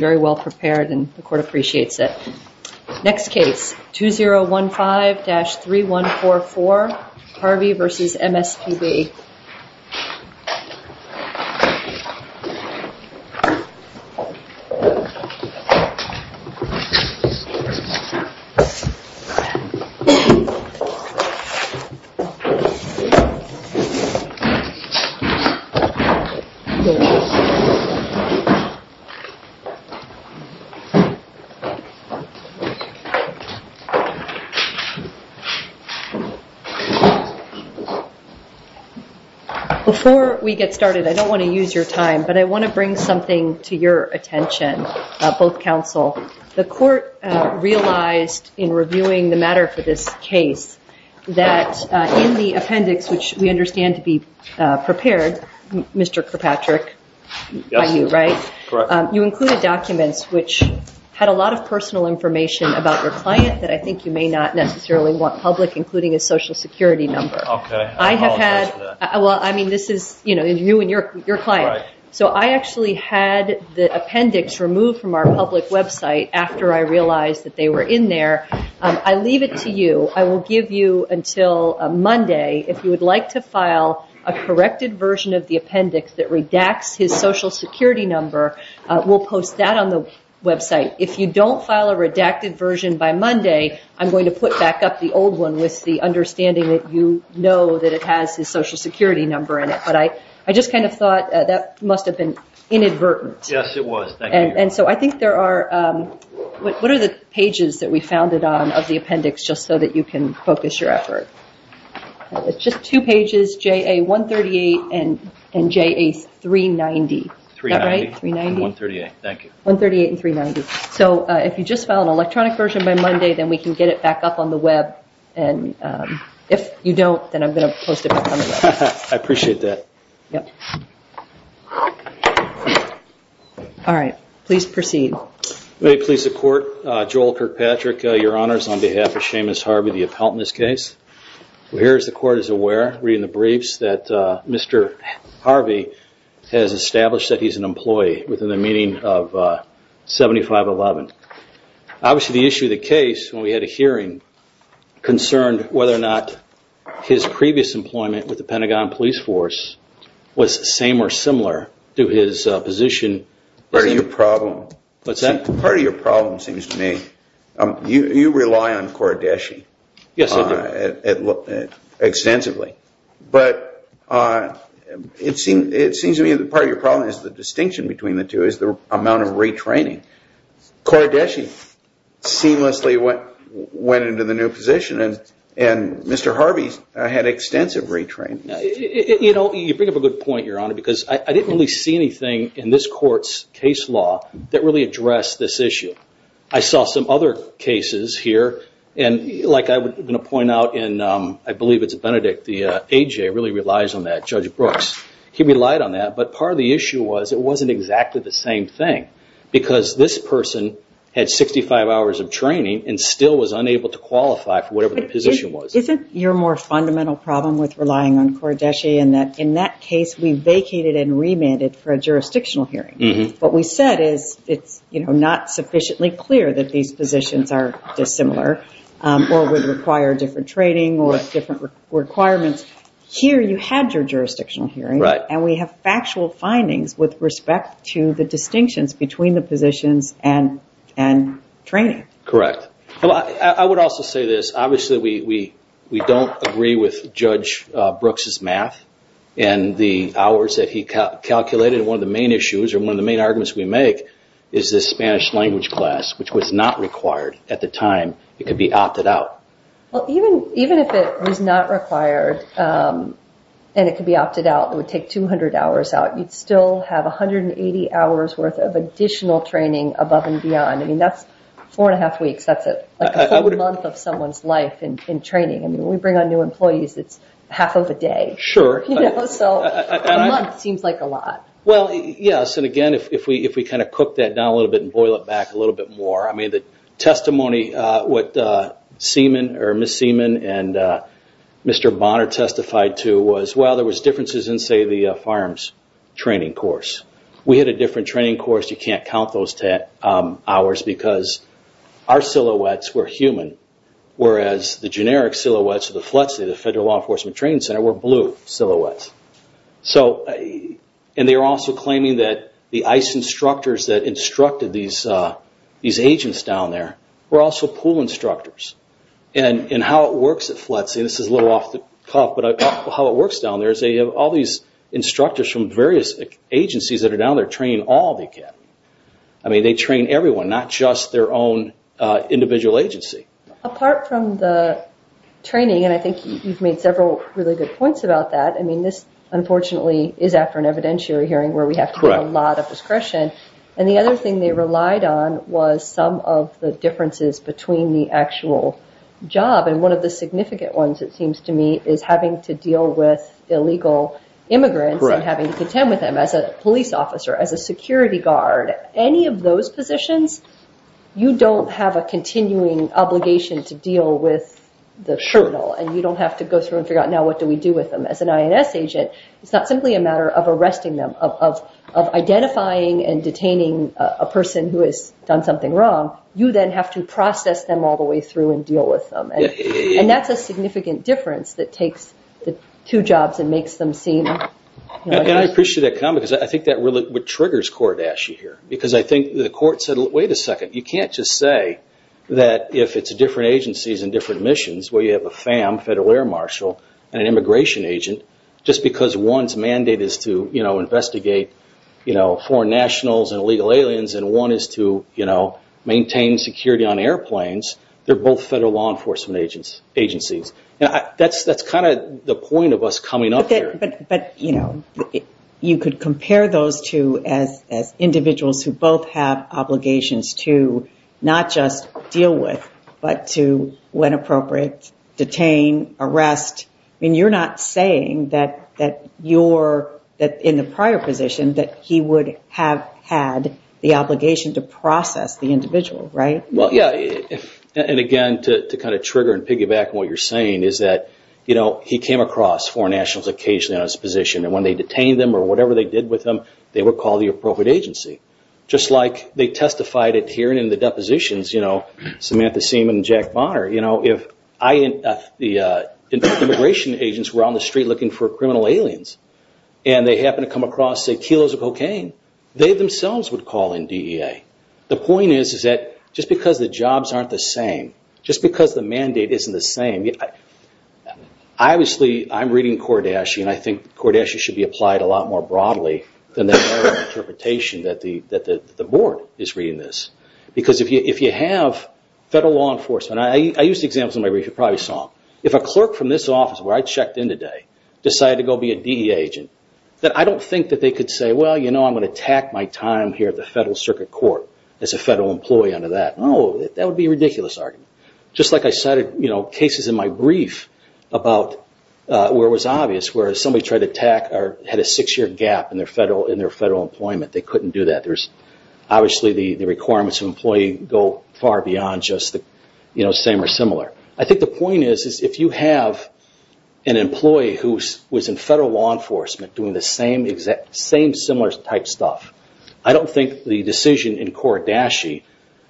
very well prepared and the court appreciates it. Next case 2015-3144 Harvey vs. MSPB Before we get started, I don't want to use your time, but I want to bring something to your attention, both counsel. The court realized in reviewing the matter for this case that in the appendix, which we understand to be prepared, Mr. Kirkpatrick, by you, right? which had a lot of personal information about your client that I think you may not necessarily want public, including his social security number. I have had the appendix removed from our public website after I realized that they were in there. I leave it to you. I will give you until Monday, if you would like to file a corrected version of the appendix that redacts his social security number, we will post that on the website. If you don't file a redacted version by Monday, I'm going to put back up the old one with the understanding that you know that it has his social security number in it. I just kind of thought that must have been inadvertent. Yes, it was. Thank you. What are the pages that we found it on of your effort? It's just two pages, JA138 and JA390. If you just file an electronic version by Monday, we can get it back up on the web. If you don't, I'm going to post it. I appreciate that. Please proceed. May it please the court, Joel Kirkpatrick, your honors, on behalf of Seamus Harvey, the appellant in this case. Here, as the court is aware, reading the briefs, that Mr. Harvey has established that he is an employee within the meaning of 7511. Obviously, the issue of the case, when we had a hearing, concerned whether or not his previous employment with the Pentagon police force was the same or You rely on Kordeshi. Yes, I do. Extensively. It seems to me that part of your problem is the distinction between the two, is the amount of retraining. Kordeshi seamlessly went into the new position, and Mr. Harvey had extensive retraining. You bring up a good point, your honor, because I didn't really see anything in this court's case law that really addressed this issue. I saw some other cases here, and like I'm going to point out in, I believe it's Benedict, the AJ really relies on that, Judge Brooks. He relied on that, but part of the issue was it wasn't exactly the same thing, because this person had 65 hours of training and still was unable to qualify for whatever the position was. Isn't your more fundamental problem with relying on Kordeshi in that, in that case, we vacated and remanded for a jurisdictional hearing. What we said is it's not sufficiently clear that these positions are dissimilar, or would require different training, or different requirements. Here you had your jurisdictional hearing, and we have factual findings with respect to the distinctions between the positions and training. Correct. I would also say this. Obviously, we don't agree with Judge Brooks' math and the hours that he calculated. One of the main issues, or one of the main arguments we make is this Spanish language class, which was not required at the time. It could be opted out. Even if it was not required, and it could be opted out, it would take 200 hours out. You'd still have 180 hours worth of additional training above and beyond. That's four and a half weeks. That's a full month of someone's life in training. When we bring on new employees, it's half of a day, so a month seems like a lot. Yes. Again, if we cook that down a little bit and boil it back a little bit more, the testimony what Ms. Seaman and Mr. Bonner testified to was, well, there was differences in, say, the farms training course. We had a different training course. You can't count those hours because our silhouettes were human, whereas the generic silhouettes of the FLETC, the Federal Law Enforcement Training Center, were blue silhouettes. They were also claiming that the ICE instructors that instructed these agents down there were also pool instructors. How it works at FLETC, and this is a little off the cuff, but how it works down there is they have all these people in all the academy. They train everyone, not just their own individual agency. Apart from the training, and I think you've made several really good points about that, this unfortunately is after an evidentiary hearing where we have to have a lot of discretion. The other thing they relied on was some of the differences between the actual job. One of the significant ones, it seems to me, is having to deal with illegal immigrants and having to contend with them as a police officer, as a security guard. Any of those positions, you don't have a continuing obligation to deal with the shertle. You don't have to go through and figure out, now what do we do with them? As an INS agent, it's not simply a matter of arresting them, of identifying and detaining a person who has done something wrong. You then have to process them all the way through and deal with them. That's a significant difference that takes the two jobs and makes them seem... I appreciate that comment. I think that's what triggers Kordeshi here. The court said, wait a second, you can't just say that if it's different agencies and different missions where you have a FAM, Federal Air Marshal, and an immigration agent, just because one's mandate is to investigate foreign nationals and illegal aliens and one is to maintain security on airplanes, they're both federal law enforcement agencies. That's the point of us coming up here. You could compare those two as individuals who both have obligations to not just deal with but to, when appropriate, detain, arrest. You're not saying that in the prior position that he would have had the obligation to process the individual, right? Again, to kind of trigger and piggyback on what you're saying is that he came across foreign nationals occasionally on his position and when they detained them or whatever they did with them, they were called the appropriate agency. Just like they testified at hearing in the depositions, Samantha Seaman and Jack Bonner. If the immigration agents were on process kilos of cocaine, they themselves would call in DEA. The point is that just because the jobs aren't the same, just because the mandate isn't the same, obviously I'm reading Kardashian and I think Kardashian should be applied a lot more broadly than the interpretation that the board is reading this. If you have federal law enforcement, I used examples in my brief you probably saw, if a clerk from this office where I checked in today decided to go be a DEA agent, I don't think that they could say, well, you know, I'm going to tack my time here at the Federal Circuit Court as a federal employee under that. No, that would be a ridiculous argument. Just like I cited cases in my brief about where it was obvious where somebody tried to tack or had a six year gap in their federal employment, they couldn't do that. There's obviously the requirements of employee go far beyond just the same or similar. I think the point is if you have an employee who was in federal law enforcement doing the same similar type stuff, I don't think the decision in Kardashian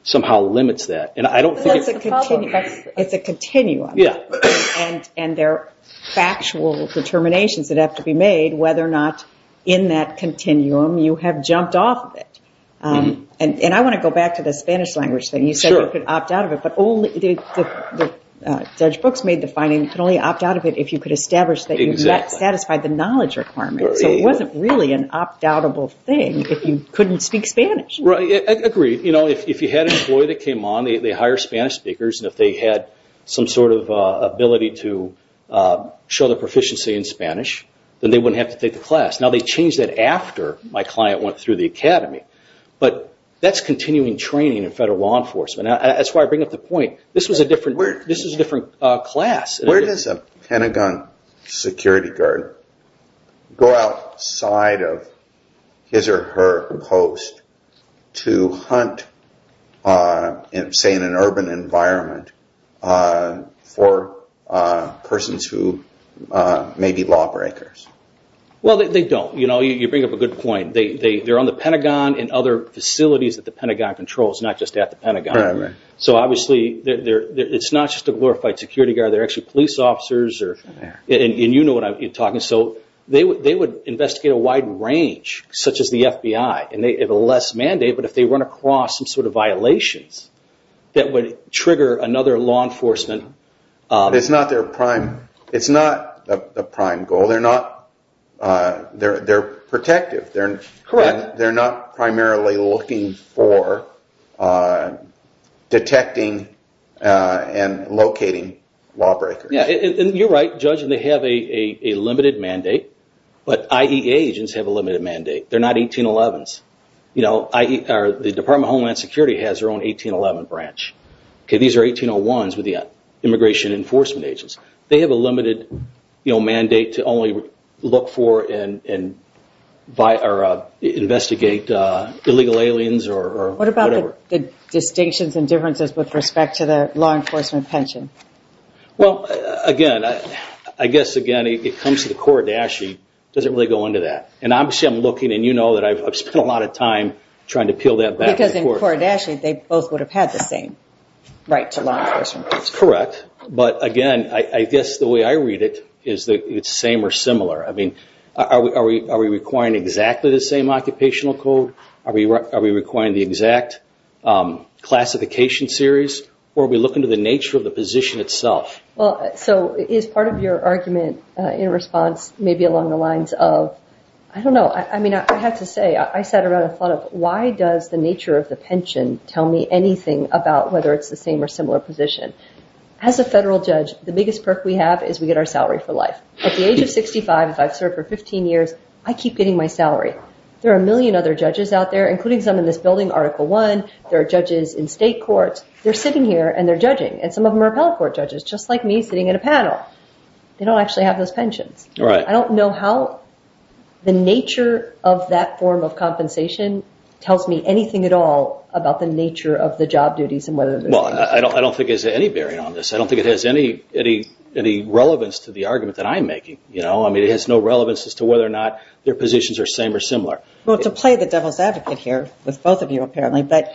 somehow limits that. It's a continuum and there are factual determinations that have to be made whether or not in that continuum you have jumped off of it. I want to go back to the Spanish language thing. You said you could opt out of it, but Judge Brooks made the finding you could only opt out of it if you could establish that you satisfied the knowledge requirement. So it wasn't really an opt-out-able thing if you couldn't speak Spanish. Right, I agree. If you had an employee that came on, they hire Spanish speakers and if they had some sort of ability to show their proficiency in Spanish, then they wouldn't have to take the class. Now they changed that after my client went through the academy, but that's continuing training in federal law enforcement. That's why I bring up the class. Where does a Pentagon security guard go outside of his or her post to hunt, say in an urban environment, for persons who may be lawbreakers? Well they don't. You bring up a good point. They're on the Pentagon and other facilities that the Pentagon controls, not just at the Pentagon. So obviously it's not just a glorified security guard, they're actually police officers. They would investigate a wide range, such as the FBI. They have a less mandate, but if they run across some sort of violations that would trigger another law enforcement... It's not their prime goal. They're protective. Correct. They're not primarily looking for detecting and locating lawbreakers. You're right, Judge. They have a limited mandate, but IEA agents have a limited mandate. They're not 1811s. The Department of Homeland Security has their own 1811 branch. These are 1801s with the immigration enforcement agents. They have a limited mandate to only look for and investigate illegal aliens or whatever. What about the distinctions and differences with respect to the law enforcement pension? Well again, I guess again it comes to the Kordashi, it doesn't really go into that. And obviously I'm looking and you know that I've spent a lot of time trying to peel that back and forth. Because in Kordashi they both would have had the same right to law enforcement pension. Correct. But again, I guess the way I read it is that it's the same or similar. I mean, are we requiring exactly the same occupational code? Are we requiring the exact classification series? Or are we looking to the nature of the position itself? So is part of your argument in response maybe along the lines of, I don't know, I mean I have to say I sat around and thought of why does the nature of the pension tell me anything about whether it's the same or similar position? As a federal judge, the biggest perk we have is we get our salary for life. At the age of 65, if I've served for 15 years, I keep getting my salary. There are a million other judges out there, including some in this building, Article 1, there are judges in state courts, they're sitting here and they're judging. And some of them are appellate court judges, just like me sitting in a panel. They don't actually have those pensions. Right. I don't know how the nature of that form of compensation tells me anything at all about the nature of the job duties and whether they're the same or similar. Well, I don't think there's any bearing on this. I don't think it has any relevance to the argument that I'm making. I mean it has no relevance as to whether or not their positions are same or similar. Well, to play the devil's advocate here with both of you apparently, but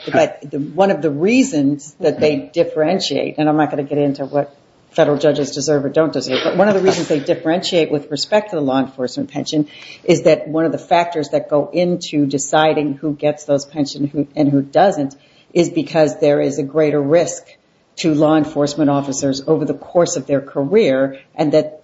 one of the reasons that they differentiate, and I'm not going to get into what federal judges deserve or don't deserve, but one of the reasons they differentiate with respect to the law enforcement pension is that one of the factors that go into deciding who gets those pensions and who doesn't is because there is a greater risk to law enforcement officers over the fact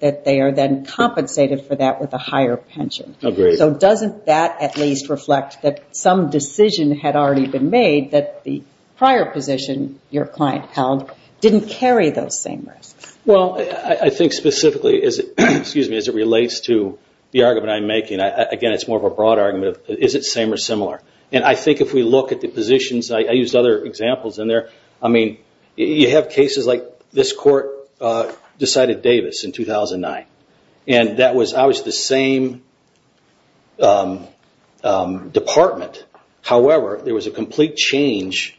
that they are then compensated for that with a higher pension. Agreed. So doesn't that at least reflect that some decision had already been made that the prior position your client held didn't carry those same risks? Well, I think specifically as it relates to the argument I'm making, again it's more of a broad argument, is it same or similar? And I think if we look at the positions, I decided Davis in 2009. And that was obviously the same department. However, there was a complete change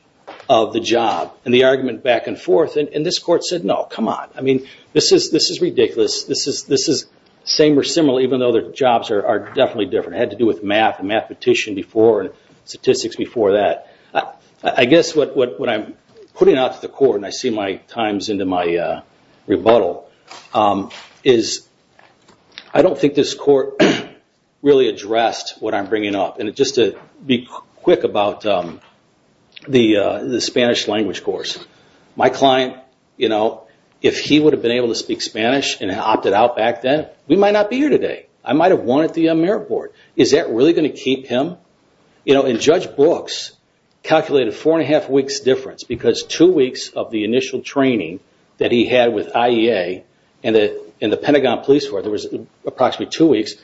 of the job. And the argument back and forth, and this court said no, come on. I mean this is ridiculous. This is same or similar even though their jobs are definitely different. It had to do with math and mathematician before and statistics before that. I guess what I'm putting out to the court, and I see my time is into my rebuttal, is I don't think this court really addressed what I'm bringing up. And just to be quick about the Spanish language course. My client, if he would have been able to speak Spanish and opted out back then, we might not be here today. I might have won at the AmeriCorps. Is that really going to keep him? And Judge Brooks calculated four and a half weeks difference because two weeks of the initial training that he had with IEA and the Pentagon Police where there was approximately two weeks,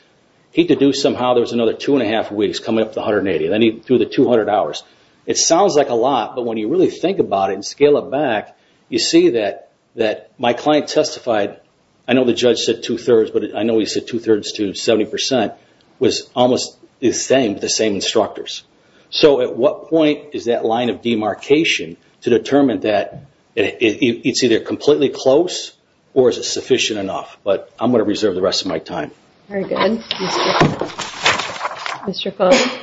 he could do somehow there was another two and a half weeks coming up to 180. Then he threw the 200 hours. It sounds like a lot, but when you really think about it and scale it back, you see that my client testified, I know the almost the same, but the same instructors. So at what point is that line of demarcation to determine that it's either completely close or is it sufficient enough? But I'm going to reserve the rest of my time. Very good. Mr. Cohn.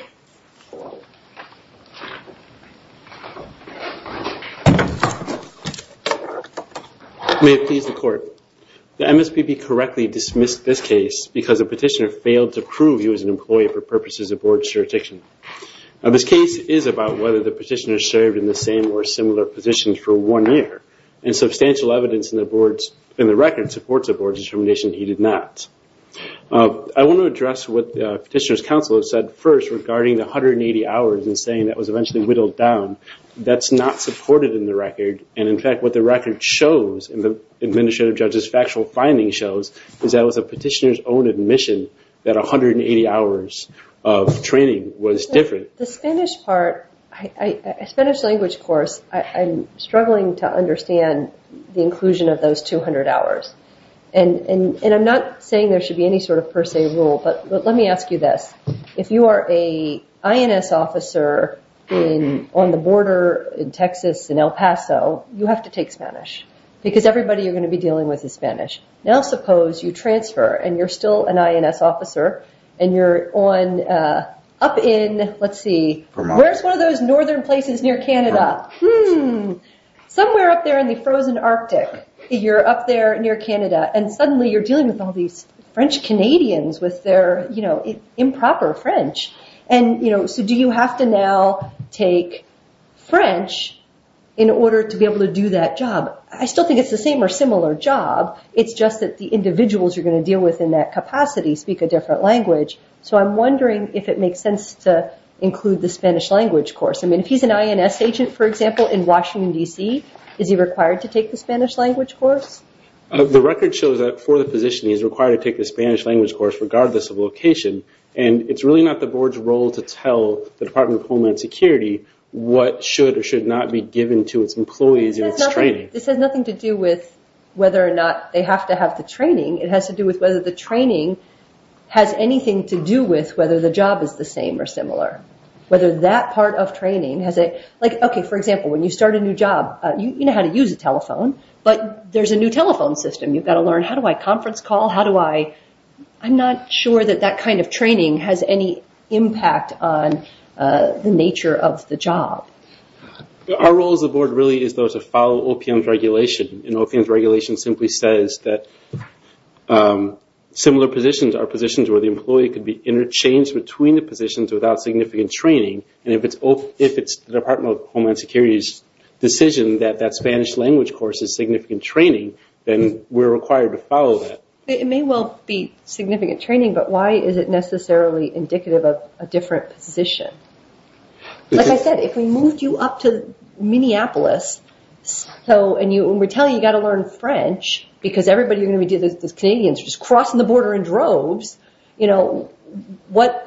May it please the court. The MSPB correctly dismissed this case because the petitioner proved he was an employee for purposes of board jurisdiction. This case is about whether the petitioner served in the same or similar positions for one year and substantial evidence in the records supports the board's determination he did not. I want to address what the petitioner's counsel has said first regarding the 180 hours and saying that was eventually whittled down. That's not supported in the record. And in fact, what the record shows in the administrative judge's factual finding shows is that it was the petitioner's own admission that 180 hours of training was different. The Spanish part, a Spanish language course, I'm struggling to understand the inclusion of those 200 hours. And I'm not saying there should be any sort of per se rule, but let me ask you this. If you are a INS officer on the border in Texas, in El Paso, you have to take Spanish because everybody you're going to be dealing with is Spanish. Now suppose you transfer and you're still an INS officer and you're up in, let's see, Vermont. Where's one of those northern places near Canada? Hmm. Somewhere up there in the frozen Arctic. You're up there near Canada and suddenly you're dealing with all these French Canadians with their improper French. So do you have to now take French in order to be able to do that job? I still think it's the same or similar job. It's just that the individuals you're going to deal with in that capacity speak a different language. So I'm wondering if it makes sense to include the Spanish language course. I mean, if he's an INS agent, for example, in Washington, D.C., is he required to take the Spanish language course? The record shows that for the position, he's required to take the Spanish language course regardless of location. And it's really not the board's role to tell the Department of Homeland Security what should or should not be given to its employees in its training. This has nothing to do with whether or not they have to have the training. It has to do with whether the training has anything to do with whether the job is the same or similar. Whether that part of training has a, like, okay, for example, when you start a new job, you know how to use a telephone, but there's a new telephone system. You've got to learn how do I conference call? How does any impact on the nature of the job? Our role as a board really is to follow OPM's regulation. And OPM's regulation simply says that similar positions are positions where the employee could be interchanged between the positions without significant training. And if it's the Department of Homeland Security's decision that that Spanish language course is significant training, then we're required to follow that. It may well be significant training, but why is it necessarily indicative of a different position? Like I said, if we moved you up to Minneapolis, and we're telling you you got to learn French because everybody you're going to be dealing with is Canadians, you're just crossing the border in droves, you know, what,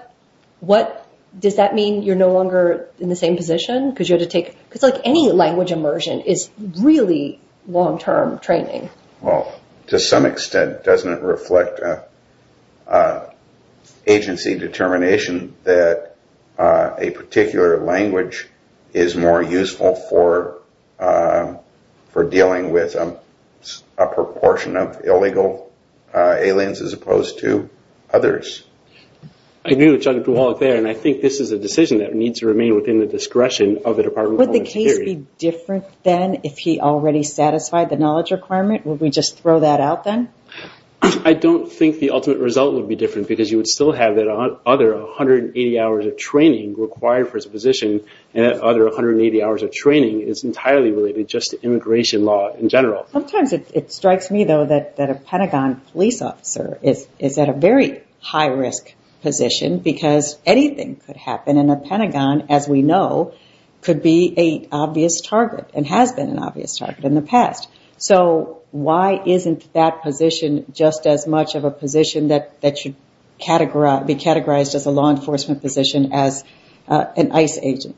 does that mean you're no longer in the same position? Because you have to take, because, like, any language immersion is really long-term training. Well, to some extent, doesn't it reflect agency determination that a particular language is more useful for dealing with a proportion of illegal aliens as opposed to others? I agree with Judge Duhalk there, and I think this is a decision that needs to remain within the discretion of the Department of Homeland Security. Would it be different then if he already satisfied the knowledge requirement? Would we just throw that out then? I don't think the ultimate result would be different, because you would still have that other 180 hours of training required for his position, and that other 180 hours of training is entirely related just to immigration law in general. Sometimes it strikes me, though, that a Pentagon police officer is at a very high-risk position, because anything could happen, and a Pentagon, as we know, could be an obvious target and has been an obvious target in the past. So why isn't that position just as much of a position that should be categorized as a law enforcement position as an ICE agent?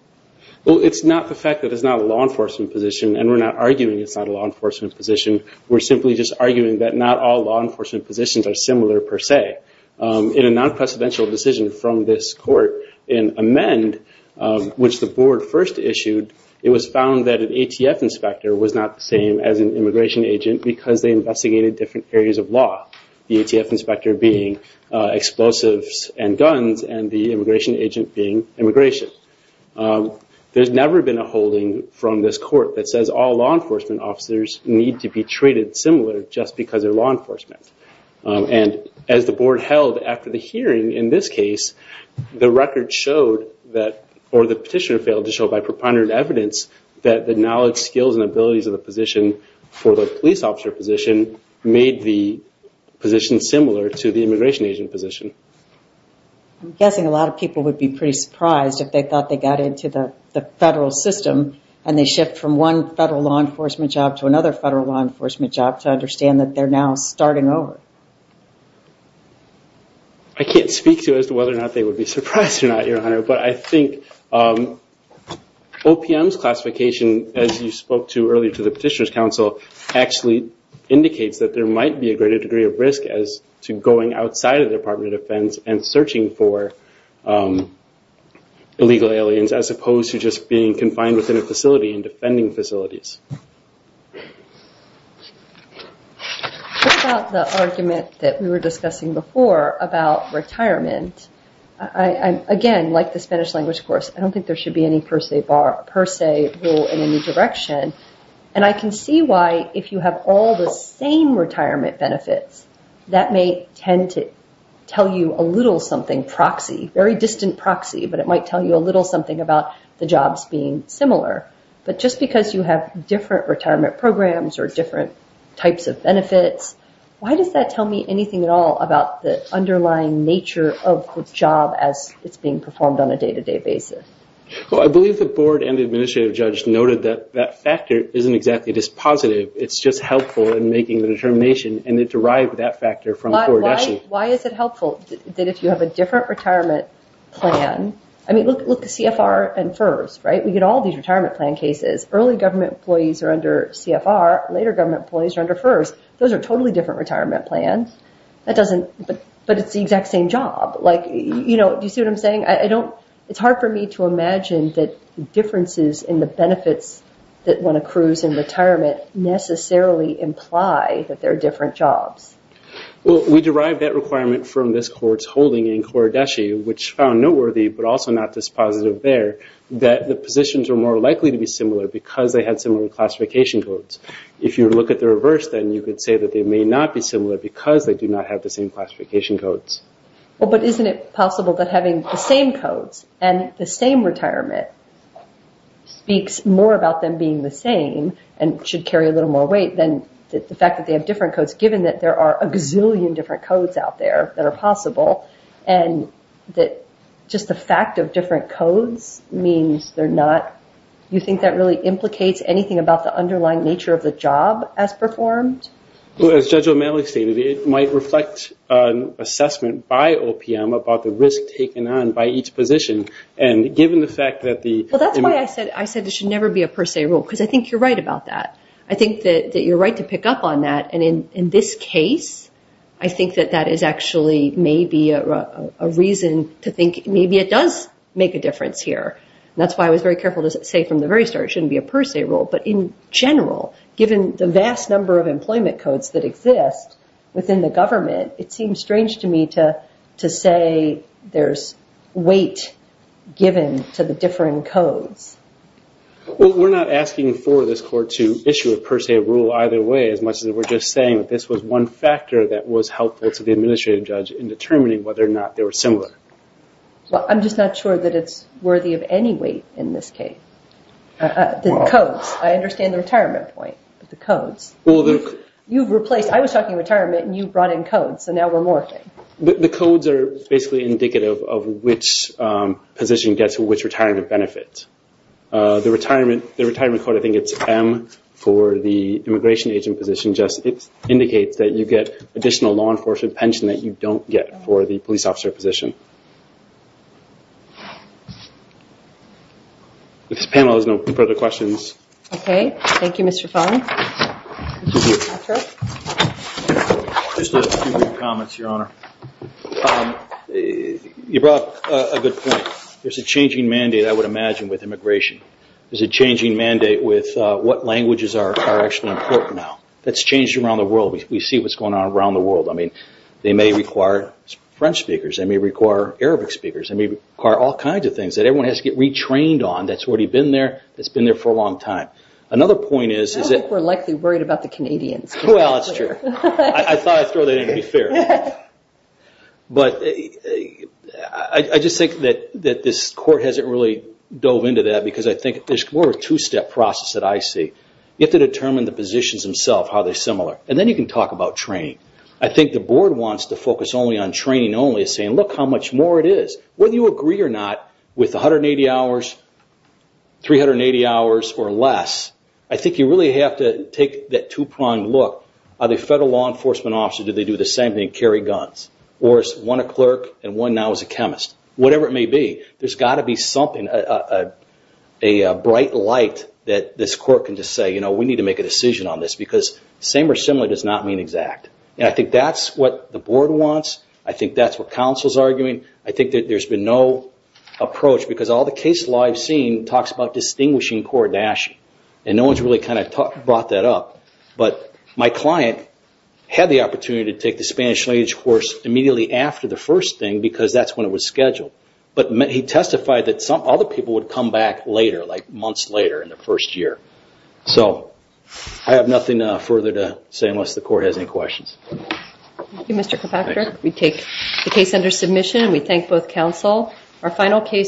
It's not the fact that it's not a law enforcement position, and we're not arguing it's not a law enforcement position. We're simply just arguing that not all law enforcement positions are similar per se. In a non-presidential decision from this court in Amend, which the board first issued, it was found that an ATF inspector was not the same as an immigration agent because they investigated different areas of law, the ATF inspector being explosives and guns and the immigration agent being immigration. There's never been a holding from this court that says all law enforcement officers need to be treated similar just because they're law enforcement. As the board held after the hearing in this case, the petitioner failed to show by preponderant evidence that the knowledge, skills, and abilities of the position for the police officer position made the position similar to the immigration agent position. I'm guessing a lot of people would be pretty surprised if they thought they got into the federal law enforcement job to understand that they're now starting over. I can't speak to as to whether or not they would be surprised or not, Your Honor, but I think OPM's classification, as you spoke to earlier to the Petitioner's Council, actually indicates that there might be a greater degree of risk as to going outside of the Department of Defense and searching for illegal aliens as opposed to just being confined within a What about the argument that we were discussing before about retirement? Again, like the Spanish language course, I don't think there should be any per se rule in any direction. I can see why if you have all the same retirement benefits, that may tend to tell you a little something proxy, very distant proxy, but it might tell you a little something about the jobs being similar. But just because you have different retirement programs or different types of benefits, why does that tell me anything at all about the underlying nature of the job as it's being performed on a day-to-day basis? Well, I believe the board and the administrative judge noted that that factor isn't exactly just positive. It's just helpful in making the determination and it derived that factor from coordination. Why is it helpful that if you have a different retirement plan, I mean, look at CFR and FERS, right? We get all these retirement plan cases. Early government employees are under CFR, later government employees are under FERS. Those are totally different retirement plans, but it's the exact same job. Like, you know, do you see what I'm saying? It's hard for me to imagine that differences in the benefits that one accrues in retirement necessarily imply that they're different jobs. Well, we derived that requirement from this court's holding in Kouradeshi, which found noteworthy, but also not this positive there, that the positions are more likely to be similar because they had similar classification codes. If you look at the reverse, then you could say that they may not be similar because they do not have the same classification codes. Well, but isn't it possible that having the same codes and the same retirement speaks more about them being the same and should carry a little more weight than the fact that they have different codes, given that there are a gazillion different codes out there that are possible, and that just the fact of different codes means they're not... You think that really implicates anything about the underlying nature of the job as performed? Well, as Judge O'Malley stated, it might reflect an assessment by OPM about the risk taken on by each position. And given the fact that the... Well, that's why I said it should never be a per se rule, because I think you're right about that. I think that you're right to pick up on that. And in this case, I think that that is actually maybe a reason to think maybe it does make a difference here. That's why I was very careful to say from the very start it shouldn't be a per se rule. But in general, given the vast number of employment codes that exist within the government, it seems strange to me to say there's weight given to the different codes. Well, we're not asking for this court to issue a per se rule either way, as much as we're just saying that this was one factor that was helpful to the administrative judge in determining whether or not they were similar. Well, I'm just not sure that it's worthy of any weight in this case. The codes, I understand the retirement point, but the codes. Well, the... You've replaced... I was talking retirement and you brought in codes, so now we're morphing. The codes are basically indicative of which position gets which retirement benefit. The retirement code, I think it's M for the immigration agent position, just indicates that you get additional law enforcement pension that you don't get for the police officer position. If this panel has no further questions. Okay. Thank you, Mr. Fung. Just a few more comments, Your Honor. You brought up a good point. There's a changing mandate, I would imagine, with immigration. There's a changing mandate with what languages are actually important now. That's changed around the world. We see what's going on around the world. I mean, they may require French speakers. They may require Arabic speakers. They may require all kinds of things that everyone has to get retrained on. That's already been there. It's been there for a long time. Another point is... I don't think we're likely worried about the Canadians. Well, it's true. I thought I'd throw that in to be fair. But I just think that this court hasn't really dove into that because I think there's more of a two-step process that I see. You have to determine the positions themselves, how they're similar. And then you can talk about training. I think the board wants to focus only on training only, saying, look how much more it is. Whether you agree or not with 180 hours, 380 hours or less, I think you really have to take that two-pronged look. Are they federal law enforcement officers? Do they do the same thing? Do they carry guns? Or is one a clerk and one now is a chemist? Whatever it may be, there's got to be something, a bright light that this court can just say, you know, we need to make a decision on this because same or similar does not mean exact. And I think that's what the board wants. I think that's what counsel's arguing. I think that there's been no approach because all the case law I've seen talks about distinguishing core dashing. And no one's really kind of brought that up. But my client had the opportunity to take the Spanish language course immediately after the first thing, because that's when it was scheduled. But he testified that some other people would come back later, like months later in the first year. So I have nothing further to say unless the court has any questions. Thank you, Mr. Karpakar. We take the case under submission and we thank both counsel. Our final case.